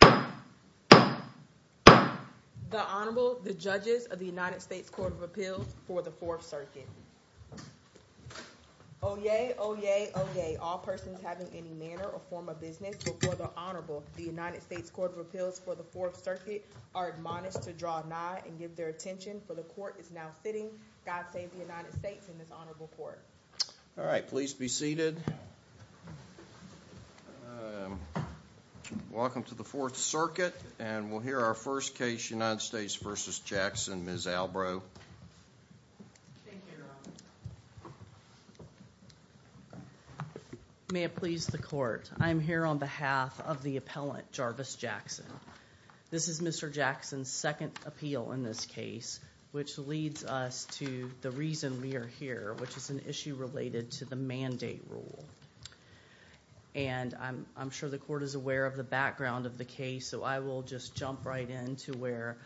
The Honorable, the Judges of the United States Court of Appeals for the Fourth Circuit. Oyez, oyez, oyez, all persons having any manner or form of business before the Honorable, the United States Court of Appeals for the Fourth Circuit, are admonished to draw nigh and give their attention, for the Court is now sitting. God save the United States and this Honorable Court. All right, please be seated. Welcome to the Fourth Circuit and we'll hear our first case, United States v. Jackson. Ms. Albrow. Thank you, Your Honor. May it please the Court, I am here on behalf of the appellant, Jarvis Jackson. This is Mr. Jackson's second appeal in this case, which leads us to the reason we are here, which is an issue related to the mandate rule. And I'm sure the Court is aware of the background of the case, so I will just jump right in to where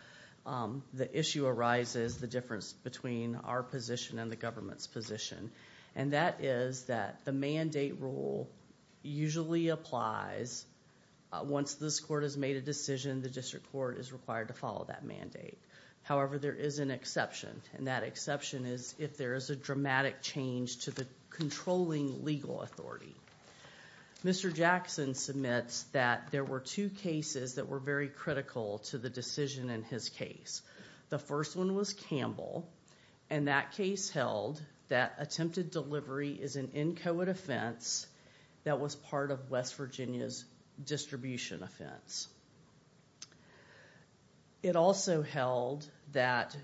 the issue arises, the difference between our position and the government's position. And that is that the mandate rule usually applies once this Court has made a decision, the District Court is required to make a dramatic change to the controlling legal authority. Mr. Jackson submits that there were two cases that were very critical to the decision in his case. The first one was Campbell, and that case held that attempted delivery is an inchoate offense that was part of West Virginia's distribution offense. It also held that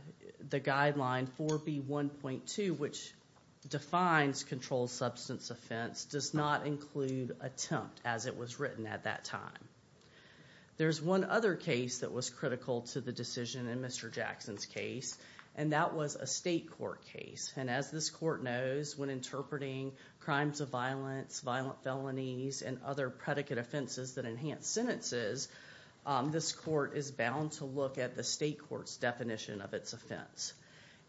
the guideline 4B1.2, which defines controlled substance offense, does not include attempt as it was written at that time. There's one other case that was critical to the decision in Mr. Jackson's case, and that was a state court case. And as this Court knows, when interpreting crimes of violence, violent felonies, and other predicate offenses that enhance sentences, this Court is bound to look at the state court's definition of its offense.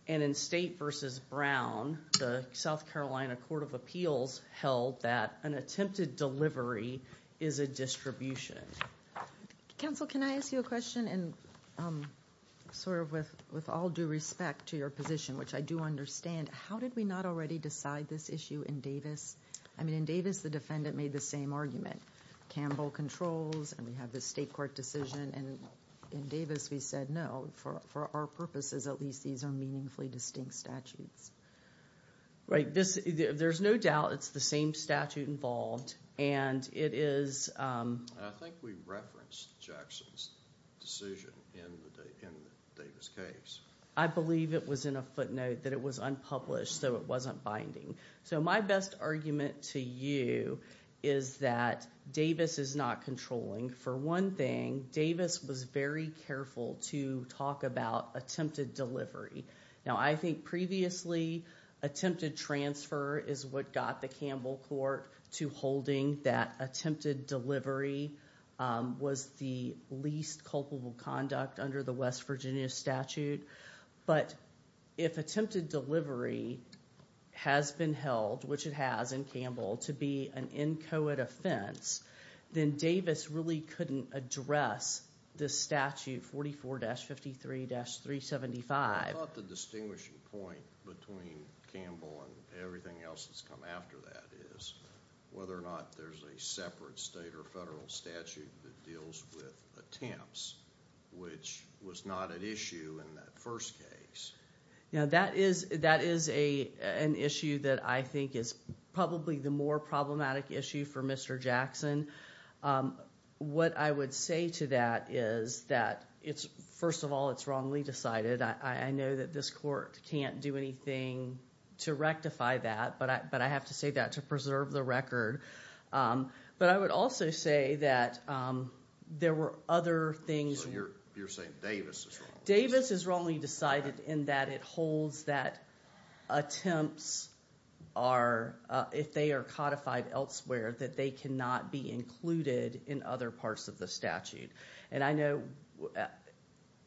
And in State v. Brown, the South Carolina Court of Appeals held that an attempted delivery is a distribution. Counsel, can I ask you a question? And sort of with all due respect to your position, which I do understand, how did we not already decide this issue in Davis? I mean, in Davis the defendant made the same argument. Campbell controls, and we have this state court decision, and in Davis we said no. For our purposes, at least, these are meaningfully distinct statutes. Right. There's no doubt it's the same statute involved, and it is... I think we referenced Jackson's decision in the Davis case. I believe it was in a footnote that it was unpublished, so it wasn't binding. So my best argument to you is that Davis is not controlling. For one thing, Davis was very careful to talk about attempted delivery. Now, I think previously attempted transfer is what got the Campbell Court to holding that attempted delivery was the least culpable conduct under the West Virginia statute. But if attempted delivery has been held, which it has in Campbell, to be an inchoate offense, then Davis really couldn't address this statute 44-53-375. I thought the distinguishing point between Campbell and everything else that's come after that is whether or not there's a separate state or federal statute that deals with attempts, which was not an issue in that first case. That is an issue that I think is probably the more problematic issue for Mr. Jackson. What I would say to that is that, first of all, it's wrongly decided. I know that this court can't do anything to rectify that, but I have to say that to preserve the record. But I would also say that there were other things... Davis is wrongly decided in that it holds that attempts are, if they are codified elsewhere, that they cannot be included in other parts of the statute. And I know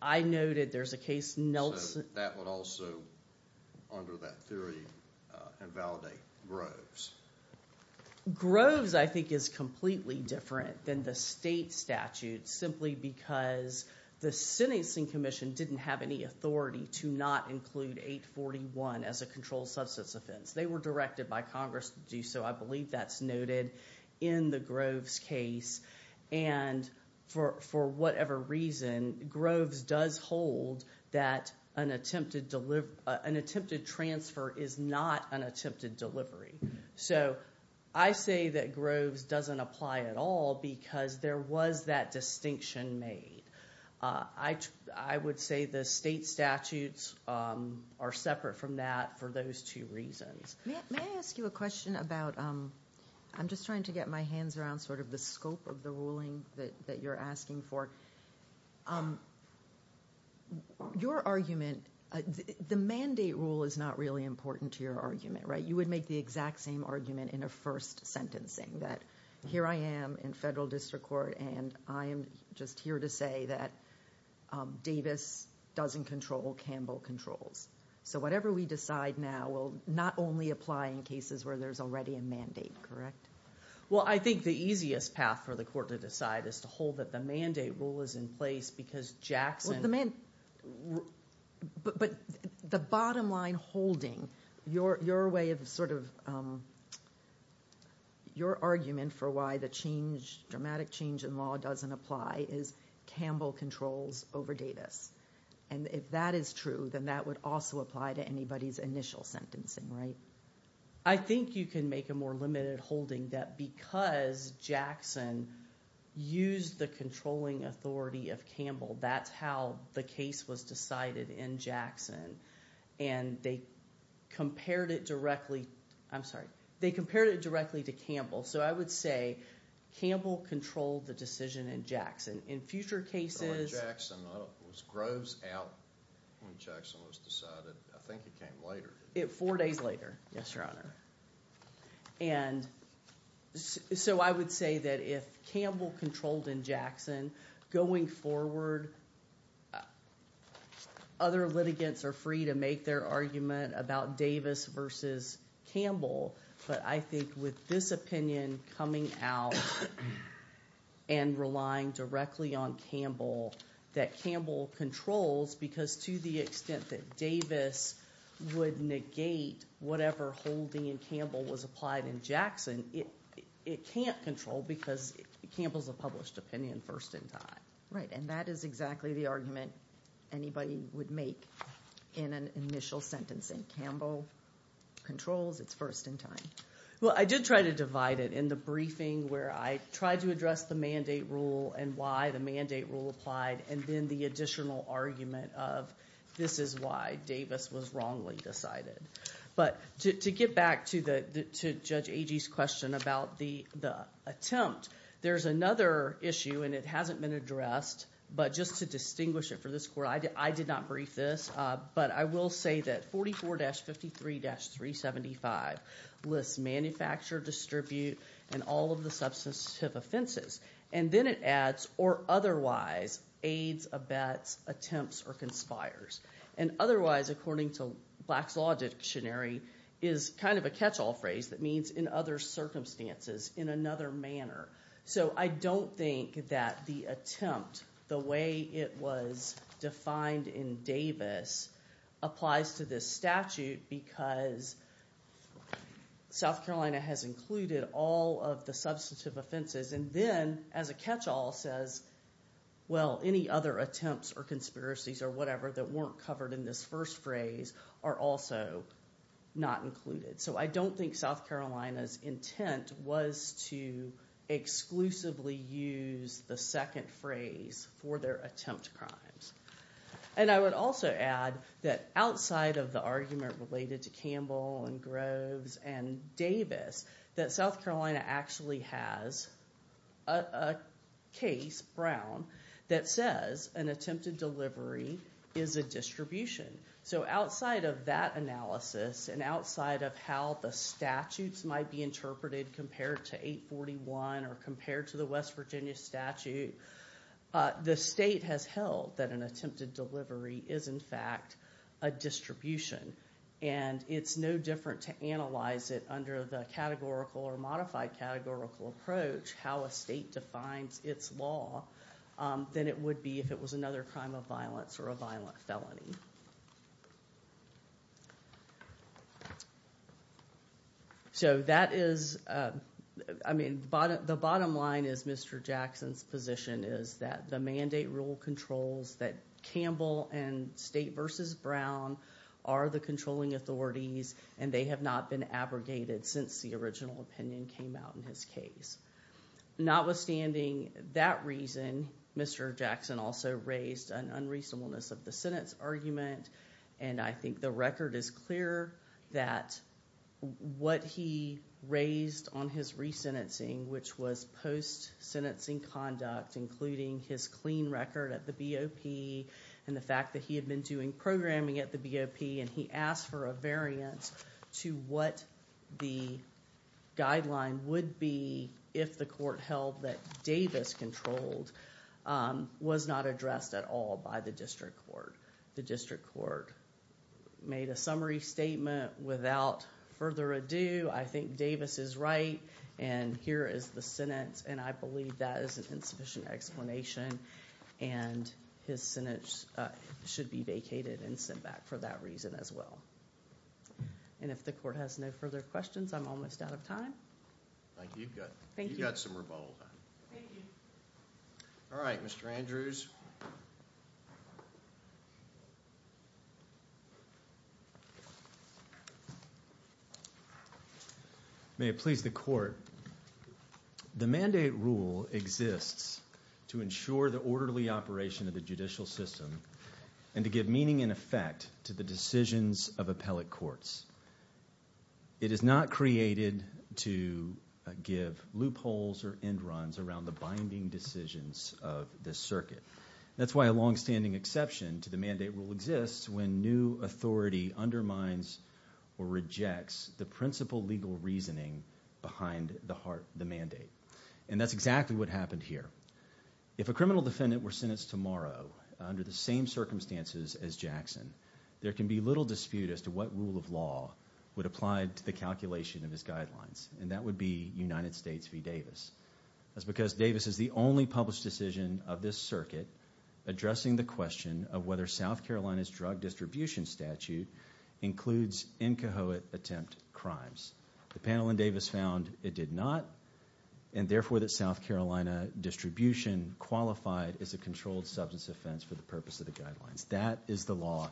I noted there's a case... that would also, under that theory, invalidate Groves. Groves, I think, is completely different than the state statute, simply because the sentencing commission didn't have any authority to not include 841 as a controlled substance offense. They were directed by Congress to do so. I believe that's noted in the Groves case. And for whatever reason, Groves does hold that an attempted transfer is not an attempted delivery. I say that Groves doesn't apply at all because there was that distinction made. I would say the state statutes are separate from that for those two reasons. May I ask you a question about... I'm just trying to get my hands around sort of the scope of the ruling that you're asking for. The mandate rule is not really important to your argument, right? You would make the exact same argument in a first sentencing, that here I am in federal district court, and I am just here to say that Davis doesn't control Campbell controls. So whatever we decide now will not only apply in cases where there's already a mandate, correct? Well, I think the easiest path for the court to decide is to hold that the mandate rule is in place because Jackson... But the bottom line holding, your way of sort of... My argument for why the dramatic change in law doesn't apply is Campbell controls over Davis. And if that is true, then that would also apply to anybody's initial sentencing, right? I think you can make a more limited holding that because Jackson used the controlling authority of Campbell, that's how the case was decided in Jackson. And they compared it directly... I'm sorry. They compared it directly to Campbell. So I would say Campbell controlled the decision in Jackson. In future cases... Jackson was groves out when Jackson was decided. I think it came later. Four days later, yes, your honor. And so I would say that if Campbell controlled in Jackson, going forward, other litigants are free to make their argument about Davis versus Campbell. But I think with this opinion coming out and relying directly on Campbell, that Campbell controls because to the extent that Davis would negate whatever holding in Campbell was applied in Jackson, it can't control because Campbell's a published opinion first in time. Right. And that is exactly the argument anybody would make in an initial sentencing. Campbell controls. It's first in time. Well, I did try to divide it in the briefing where I tried to address the mandate rule and why the mandate rule applied and then the additional argument of this is why Davis was wrongly decided. But to get back to Judge Agee's question about the attempt, there's another issue and it hasn't been addressed. But just to distinguish it for this court, I did not brief this, but I will say that 44-53-375 lists manufacture, distribute, and all of the substantive offenses. And then it adds or otherwise aids, abets, attempts, or conspires. And otherwise, according to Black's Law Dictionary, is kind of a catch-all phrase that means in other circumstances, in another manner. So I don't think that the attempt, the way it was defined in Davis applies to this statute because South Carolina has included all of the substantive offenses and then as a catch-all says, well, any other attempts or conspiracies or whatever that weren't covered in this first phrase are also not included. So I don't think South Carolina's intent was to exclusively use the second phrase for their attempt crimes. And I would also add that outside of the argument related to Campbell and Groves and Davis, that South Carolina actually has a case, Brown, that says an attempted delivery is a distribution. So outside of that analysis and outside of how the statutes might be interpreted compared to 841 or compared to the West Virginia statute, the state has held that an attempted delivery is in fact a distribution. And it's no different to analyze it under the categorical or modified categorical approach, how a state defines its law than it would be if it was another crime of violence or a violent felony. So that is, I mean, the bottom line is Mr. Jackson's position is that the mandate rule controls that Campbell and State v. Brown are the controlling authorities and they have not been abrogated since the original opinion came out in his case. Notwithstanding that reason, Mr. Jackson also raised an unreasonableness of the sentence argument and I think the record is clear that what he raised on his resentencing, which was post-sentencing conduct, including his clean record at the BOP and the fact that he had been doing programming at the BOP and he asked for a variance to what the guideline would be if the court held that Davis controlled was not addressed at all by the district court. The district court made a summary statement without further ado, I think Davis is right and here is the sentence and I believe that is an insufficient explanation and his sentence should be vacated and sent back for that reason as well. And if the court has no further questions, I'm almost out of time. Thank you. You've got some rebuttal time. Alright, Mr. Andrews. May it please the court. The mandate rule exists to ensure the orderly operation of the judicial system and to give meaning and effect to the decisions of appellate courts. It is not created to give loopholes or end runs around the binding decisions of the circuit. That's why a long-standing exception to the mandate rule exists when new authority undermines or rejects the principle legal reasoning behind the mandate. And that's exactly what happened here. If a criminal defendant were sentenced tomorrow under the same circumstances as Jackson, there can be little dispute as to what rule of law would apply to the calculation of his guidelines. And that would be United States v. Davis. That's because Davis is the only published decision of this circuit addressing the question of whether South Carolina's drug distribution statute includes incoherent attempt crimes. The panel in Davis found it did not and therefore that South Carolina distribution qualified as a controlled substance offense for the purpose of the guidelines. That is the law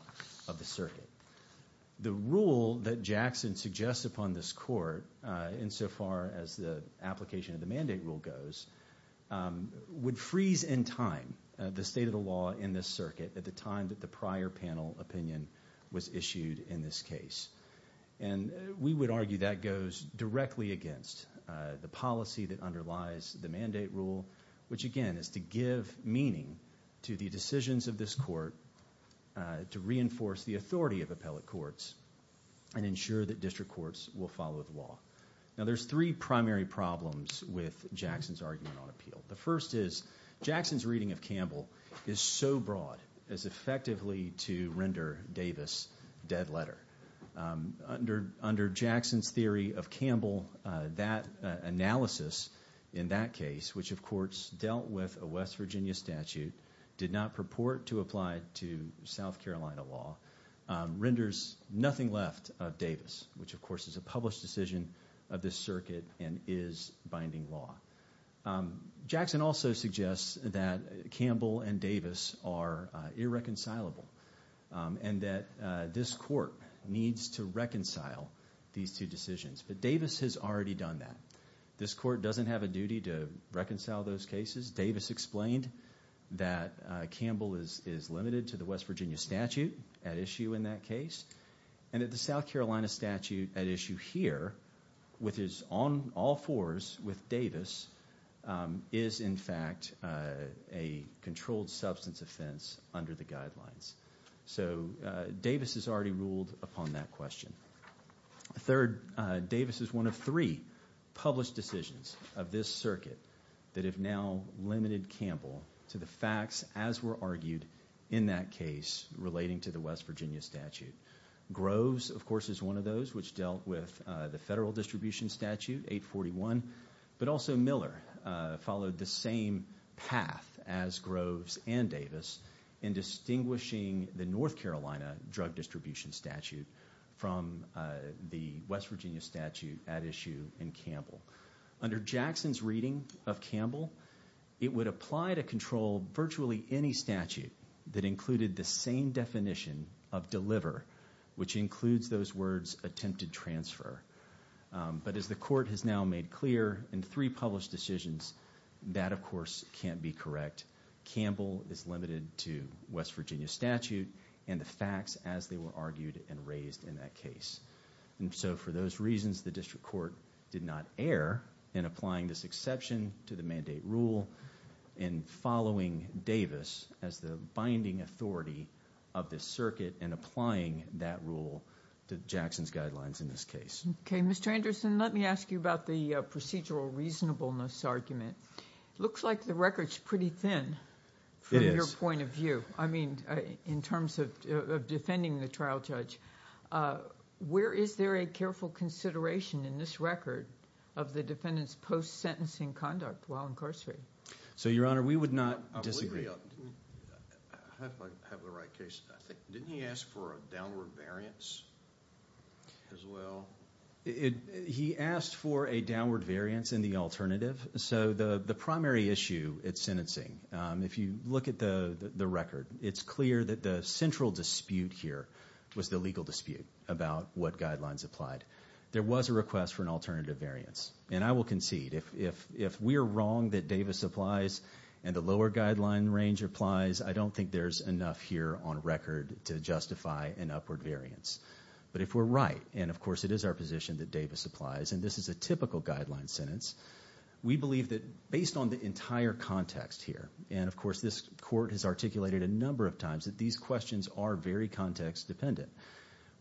of the circuit. The rule that Jackson suggests upon this court, insofar as the application of the mandate rule goes, would freeze in time the state of the law in this circuit at the time that the prior panel opinion was issued in this case. And we would argue that goes directly against the policy that underlies the mandate rule, which again is to give meaning to the decisions of this court to reinforce the authority of appellate courts and ensure that district courts will follow the law. Now there's three primary problems with Jackson's argument on appeal. The first is Jackson's reading of Campbell is so broad as effectively to render Davis dead letter. Under Jackson's theory of Campbell, that analysis in that case, which of course dealt with a West Virginia statute, did not purport to apply to South Carolina law, renders nothing left of Davis, which of course is a published decision of this circuit and is binding law. Jackson also suggests that Campbell and Davis are irreconcilable and that this court needs to reconcile these two decisions. But Davis has already done that. This court doesn't have a duty to reconcile those cases. Davis explained that Campbell is limited to the West Virginia statute at issue in that case, and that the South Carolina statute at issue here, which is on all fours with Davis, is in fact a controlled substance offense under the guidelines. So Davis has already ruled upon that question. Third, Davis is one of three published decisions of this circuit that have now limited Campbell to the facts as were argued in that case relating to the West Virginia statute. Groves, of course, is one of those which dealt with the federal distribution statute, 841, but also Miller followed the same path as Groves and Davis in distinguishing the North Carolina drug distribution statute from the West Virginia statute at issue in Campbell. Under Jackson's reading of Campbell, it would apply to control virtually any statute that included the same definition of deliver, which includes those words attempted transfer. But as the court has now made clear in three published decisions, that of course can't be correct. Campbell is limited to West Virginia statute and the facts as they were argued and raised in that case. And so for those reasons, the district court did not err in applying this exception to the mandate rule in following Davis as the binding authority of this circuit and applying that rule to Jackson's guidelines in this case. Okay, Mr. Anderson, let me ask you about the procedural reasonableness argument. It looks like the record is pretty thin from your point of view, I mean in terms of defending the trial judge. Where is there a careful consideration in this record of the defendant's post-sentencing conduct while incarcerated? So your Honor, we would not disagree. Didn't he ask for a downward variance as well? He asked for a downward variance in the alternative. So the primary issue at sentencing, if you look at the record, it's clear that the central dispute here was the legal dispute about what guidelines applied. There was a request for an alternative variance. And I will concede, if we are wrong that Davis applies and the lower guideline range applies, I don't think there's enough here on record to justify an upward variance. But if we're right, and of course it is our position that Davis applies, and this is a typical guideline sentence, we believe that based on the entire context here, and of course this court has articulated a number of times that these questions are very context dependent.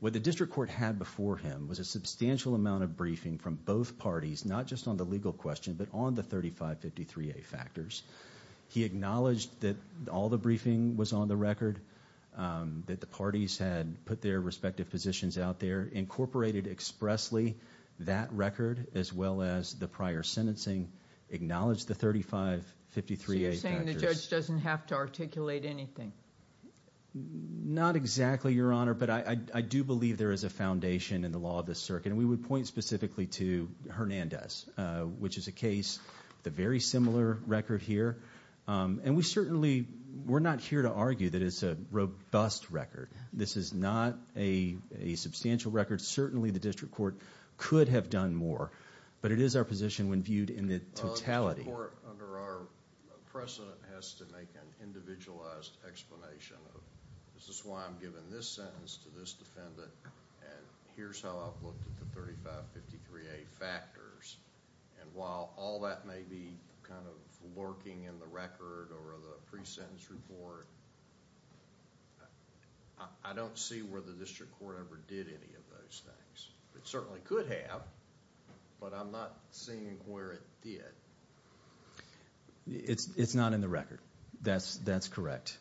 What the district court had before him was a substantial amount of briefing from both parties, not just on the legal question, but on the 3553A factors. He acknowledged that all the briefing was on the record, that the parties had put their respective positions out there, incorporated expressly that record as well as the prior sentencing, acknowledged the 3553A factors. So you're saying the judge doesn't have to articulate anything? Not exactly, Your Honor, but I do believe there is a foundation in the law of the circuit, and we would point specifically to Hernandez, which is a case with a very similar record here. And we certainly, we're not here to argue that it's a robust record. This is not a substantial record. Certainly the district court could have done more, but it is our position when viewed in the totality. The court, under our precedent, has to make an individualized explanation of, this is why I'm giving this sentence to this defendant, and here's how I've looked at the 3553A factors. And while all that may be kind of lurking in the record or the pre-sentence report, I don't see where the district court ever did any of those things. It certainly could have, but I'm not seeing where it did. It's not in the record. That's correct.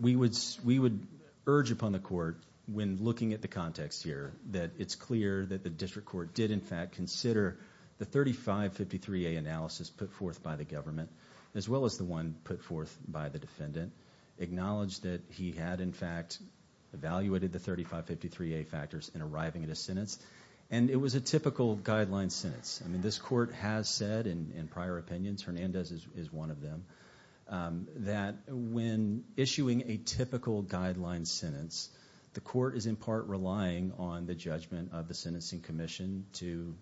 We would urge upon the court, when looking at the context here, that it's clear that the district court did, in fact, consider the 3553A analysis put forth by the government, as well as the one put forth by the defendant, acknowledged that he had, in fact, evaluated the 3553A factors in arriving at a sentence. And it was a typical guideline sentence. I mean, this court has said, in prior opinions, Hernandez is one of them, that when issuing a typical guideline sentence, the court is, in part, relying on the judgment of the sentencing commission to,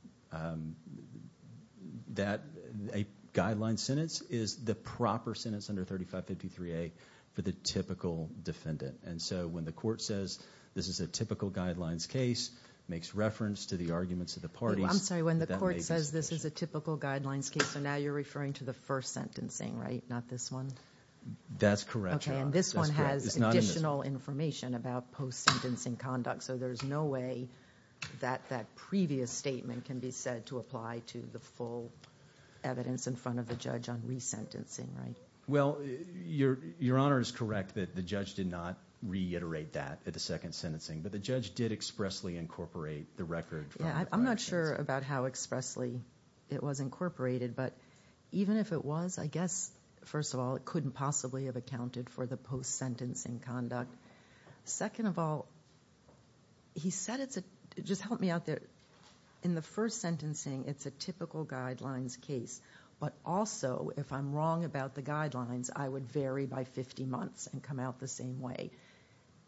that a guideline sentence is the proper sentence under 3553A for the typical defendant. And so, when the court says, this is a typical guidelines case, makes reference to the arguments of the parties. I'm sorry, when the court says this is a typical guidelines case, so now you're referring to the first sentencing, right? Not this one? That's correct, Your Honor. And this one has additional information about post-sentencing conduct, so there's no way that that previous statement can be said to apply to the full evidence in front of the judge on resentencing, right? Well, Your Honor is correct that the judge did not reiterate that at the second sentencing, but the judge did expressly incorporate the record. Yeah, I'm not sure about how expressly it was incorporated, but even if it was, I guess, first of all, it couldn't possibly have accounted for the post-sentencing conduct. Second of all, he said it's a, just help me out there, in the first sentencing, it's a typical guidelines case, but also, if I'm wrong about the guidelines, I would vary by 50 months and come out the same way.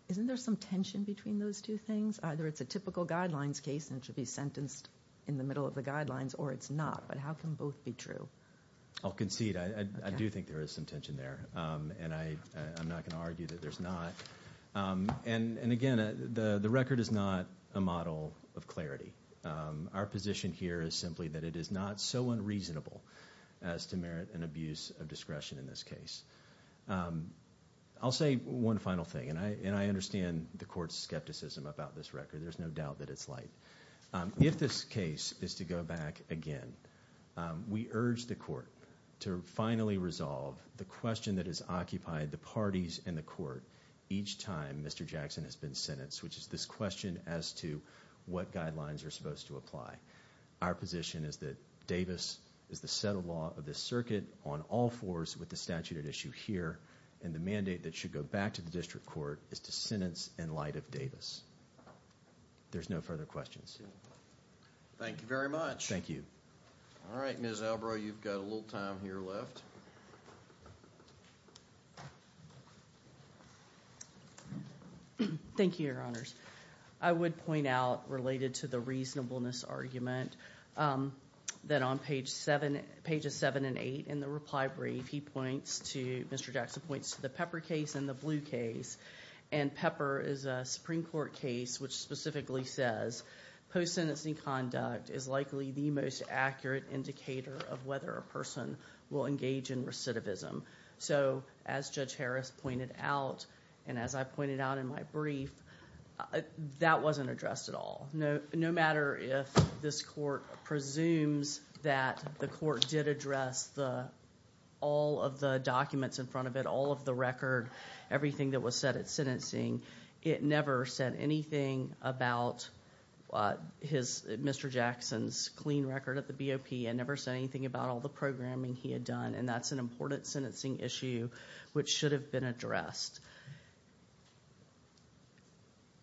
Isn't there some tension between those two things? Either it's a typical guidelines case and it should be sentenced in the middle of the guidelines, or it's not, but how can both be true? I'll concede. I do think there is some tension there, and I'm not going to argue that there's not. And again, the record is not a model of clarity. Our position here is simply that it is not so unreasonable as to merit an abuse of discretion in this case. I'll say one final thing, and I understand the Court's skepticism about this record. There's no doubt that it's light. If this case is to go back again, we urge the Court to finally resolve the question that has occupied the parties and the Court each time Mr. Jackson has been sentenced, which is this question as to what guidelines are supposed to apply. Our position is that Davis is the set of law of this circuit on all fours with the statute at issue here, and the mandate that should go back to the District Court is to sentence in light of Davis. There's no further questions. Thank you very much. Thank you. All right, Ms. Albrow, you've got a little time here left. Thank you, Your Honors. I would point out, related to the reasonableness argument, that on pages 7 and 8 in the reply brief, Mr. Jackson points to the Pepper case and the Blue case. And Pepper is a Supreme Court case which specifically says post-sentencing conduct is likely the most accurate indicator of whether a person will engage in recidivism. So as Judge Harris pointed out, and as I pointed out in my brief, that wasn't addressed at all. No matter if this Court presumes that the Court did address all of the documents in front of it, all of the record, everything that was said at sentencing, it never said anything about Mr. Jackson's clean record at the BOP. It never said anything about all the programming he had done. And that's an important sentencing issue which should have been addressed.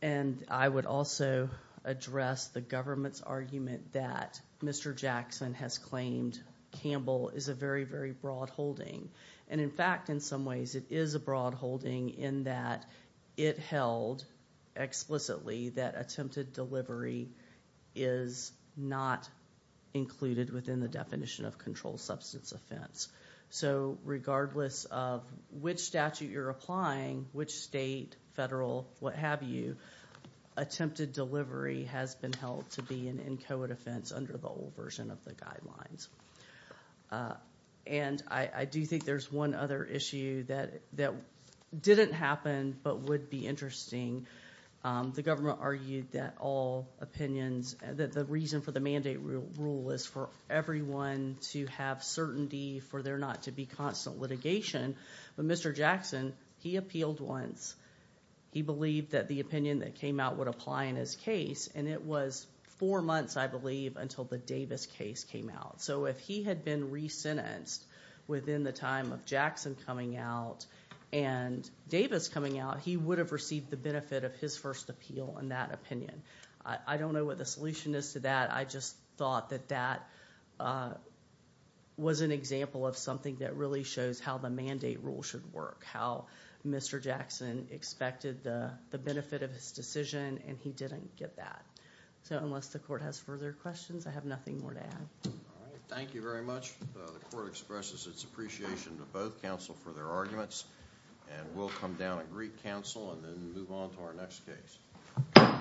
And I would also address the government's argument that Mr. Jackson has claimed Campbell is a very, very broad holding. And in fact, in some ways, it is a broad holding in that it held explicitly that attempted delivery is not included within the definition of controlled substance offense. So regardless of which statute you're applying, which state, federal, what have you, attempted delivery has been held to be an inchoate offense under the old version of the guidelines. And I do think there's one other issue that didn't happen but would be interesting. The government argued that all opinions, the reason for the mandate rule is for everyone to have certainty for there not to be But Mr. Jackson, he appealed once. He believed that the opinion that came out would apply in his case. And it was four months, I believe, until the Davis case came out. So if he had been resentenced within the time of Jackson coming out and Davis coming out, he would have received the benefit of his first appeal on that opinion. I don't know what the solution is to that. I just thought that that was an example of something that really shows how the mandate rule should work, how Mr. Jackson expected the benefit of his decision and he didn't get that. So unless the court has further questions, I have nothing more to add. Thank you very much. The court expresses its appreciation to both counsel for their arguments. And we'll come down and greet counsel and then move on to our next case.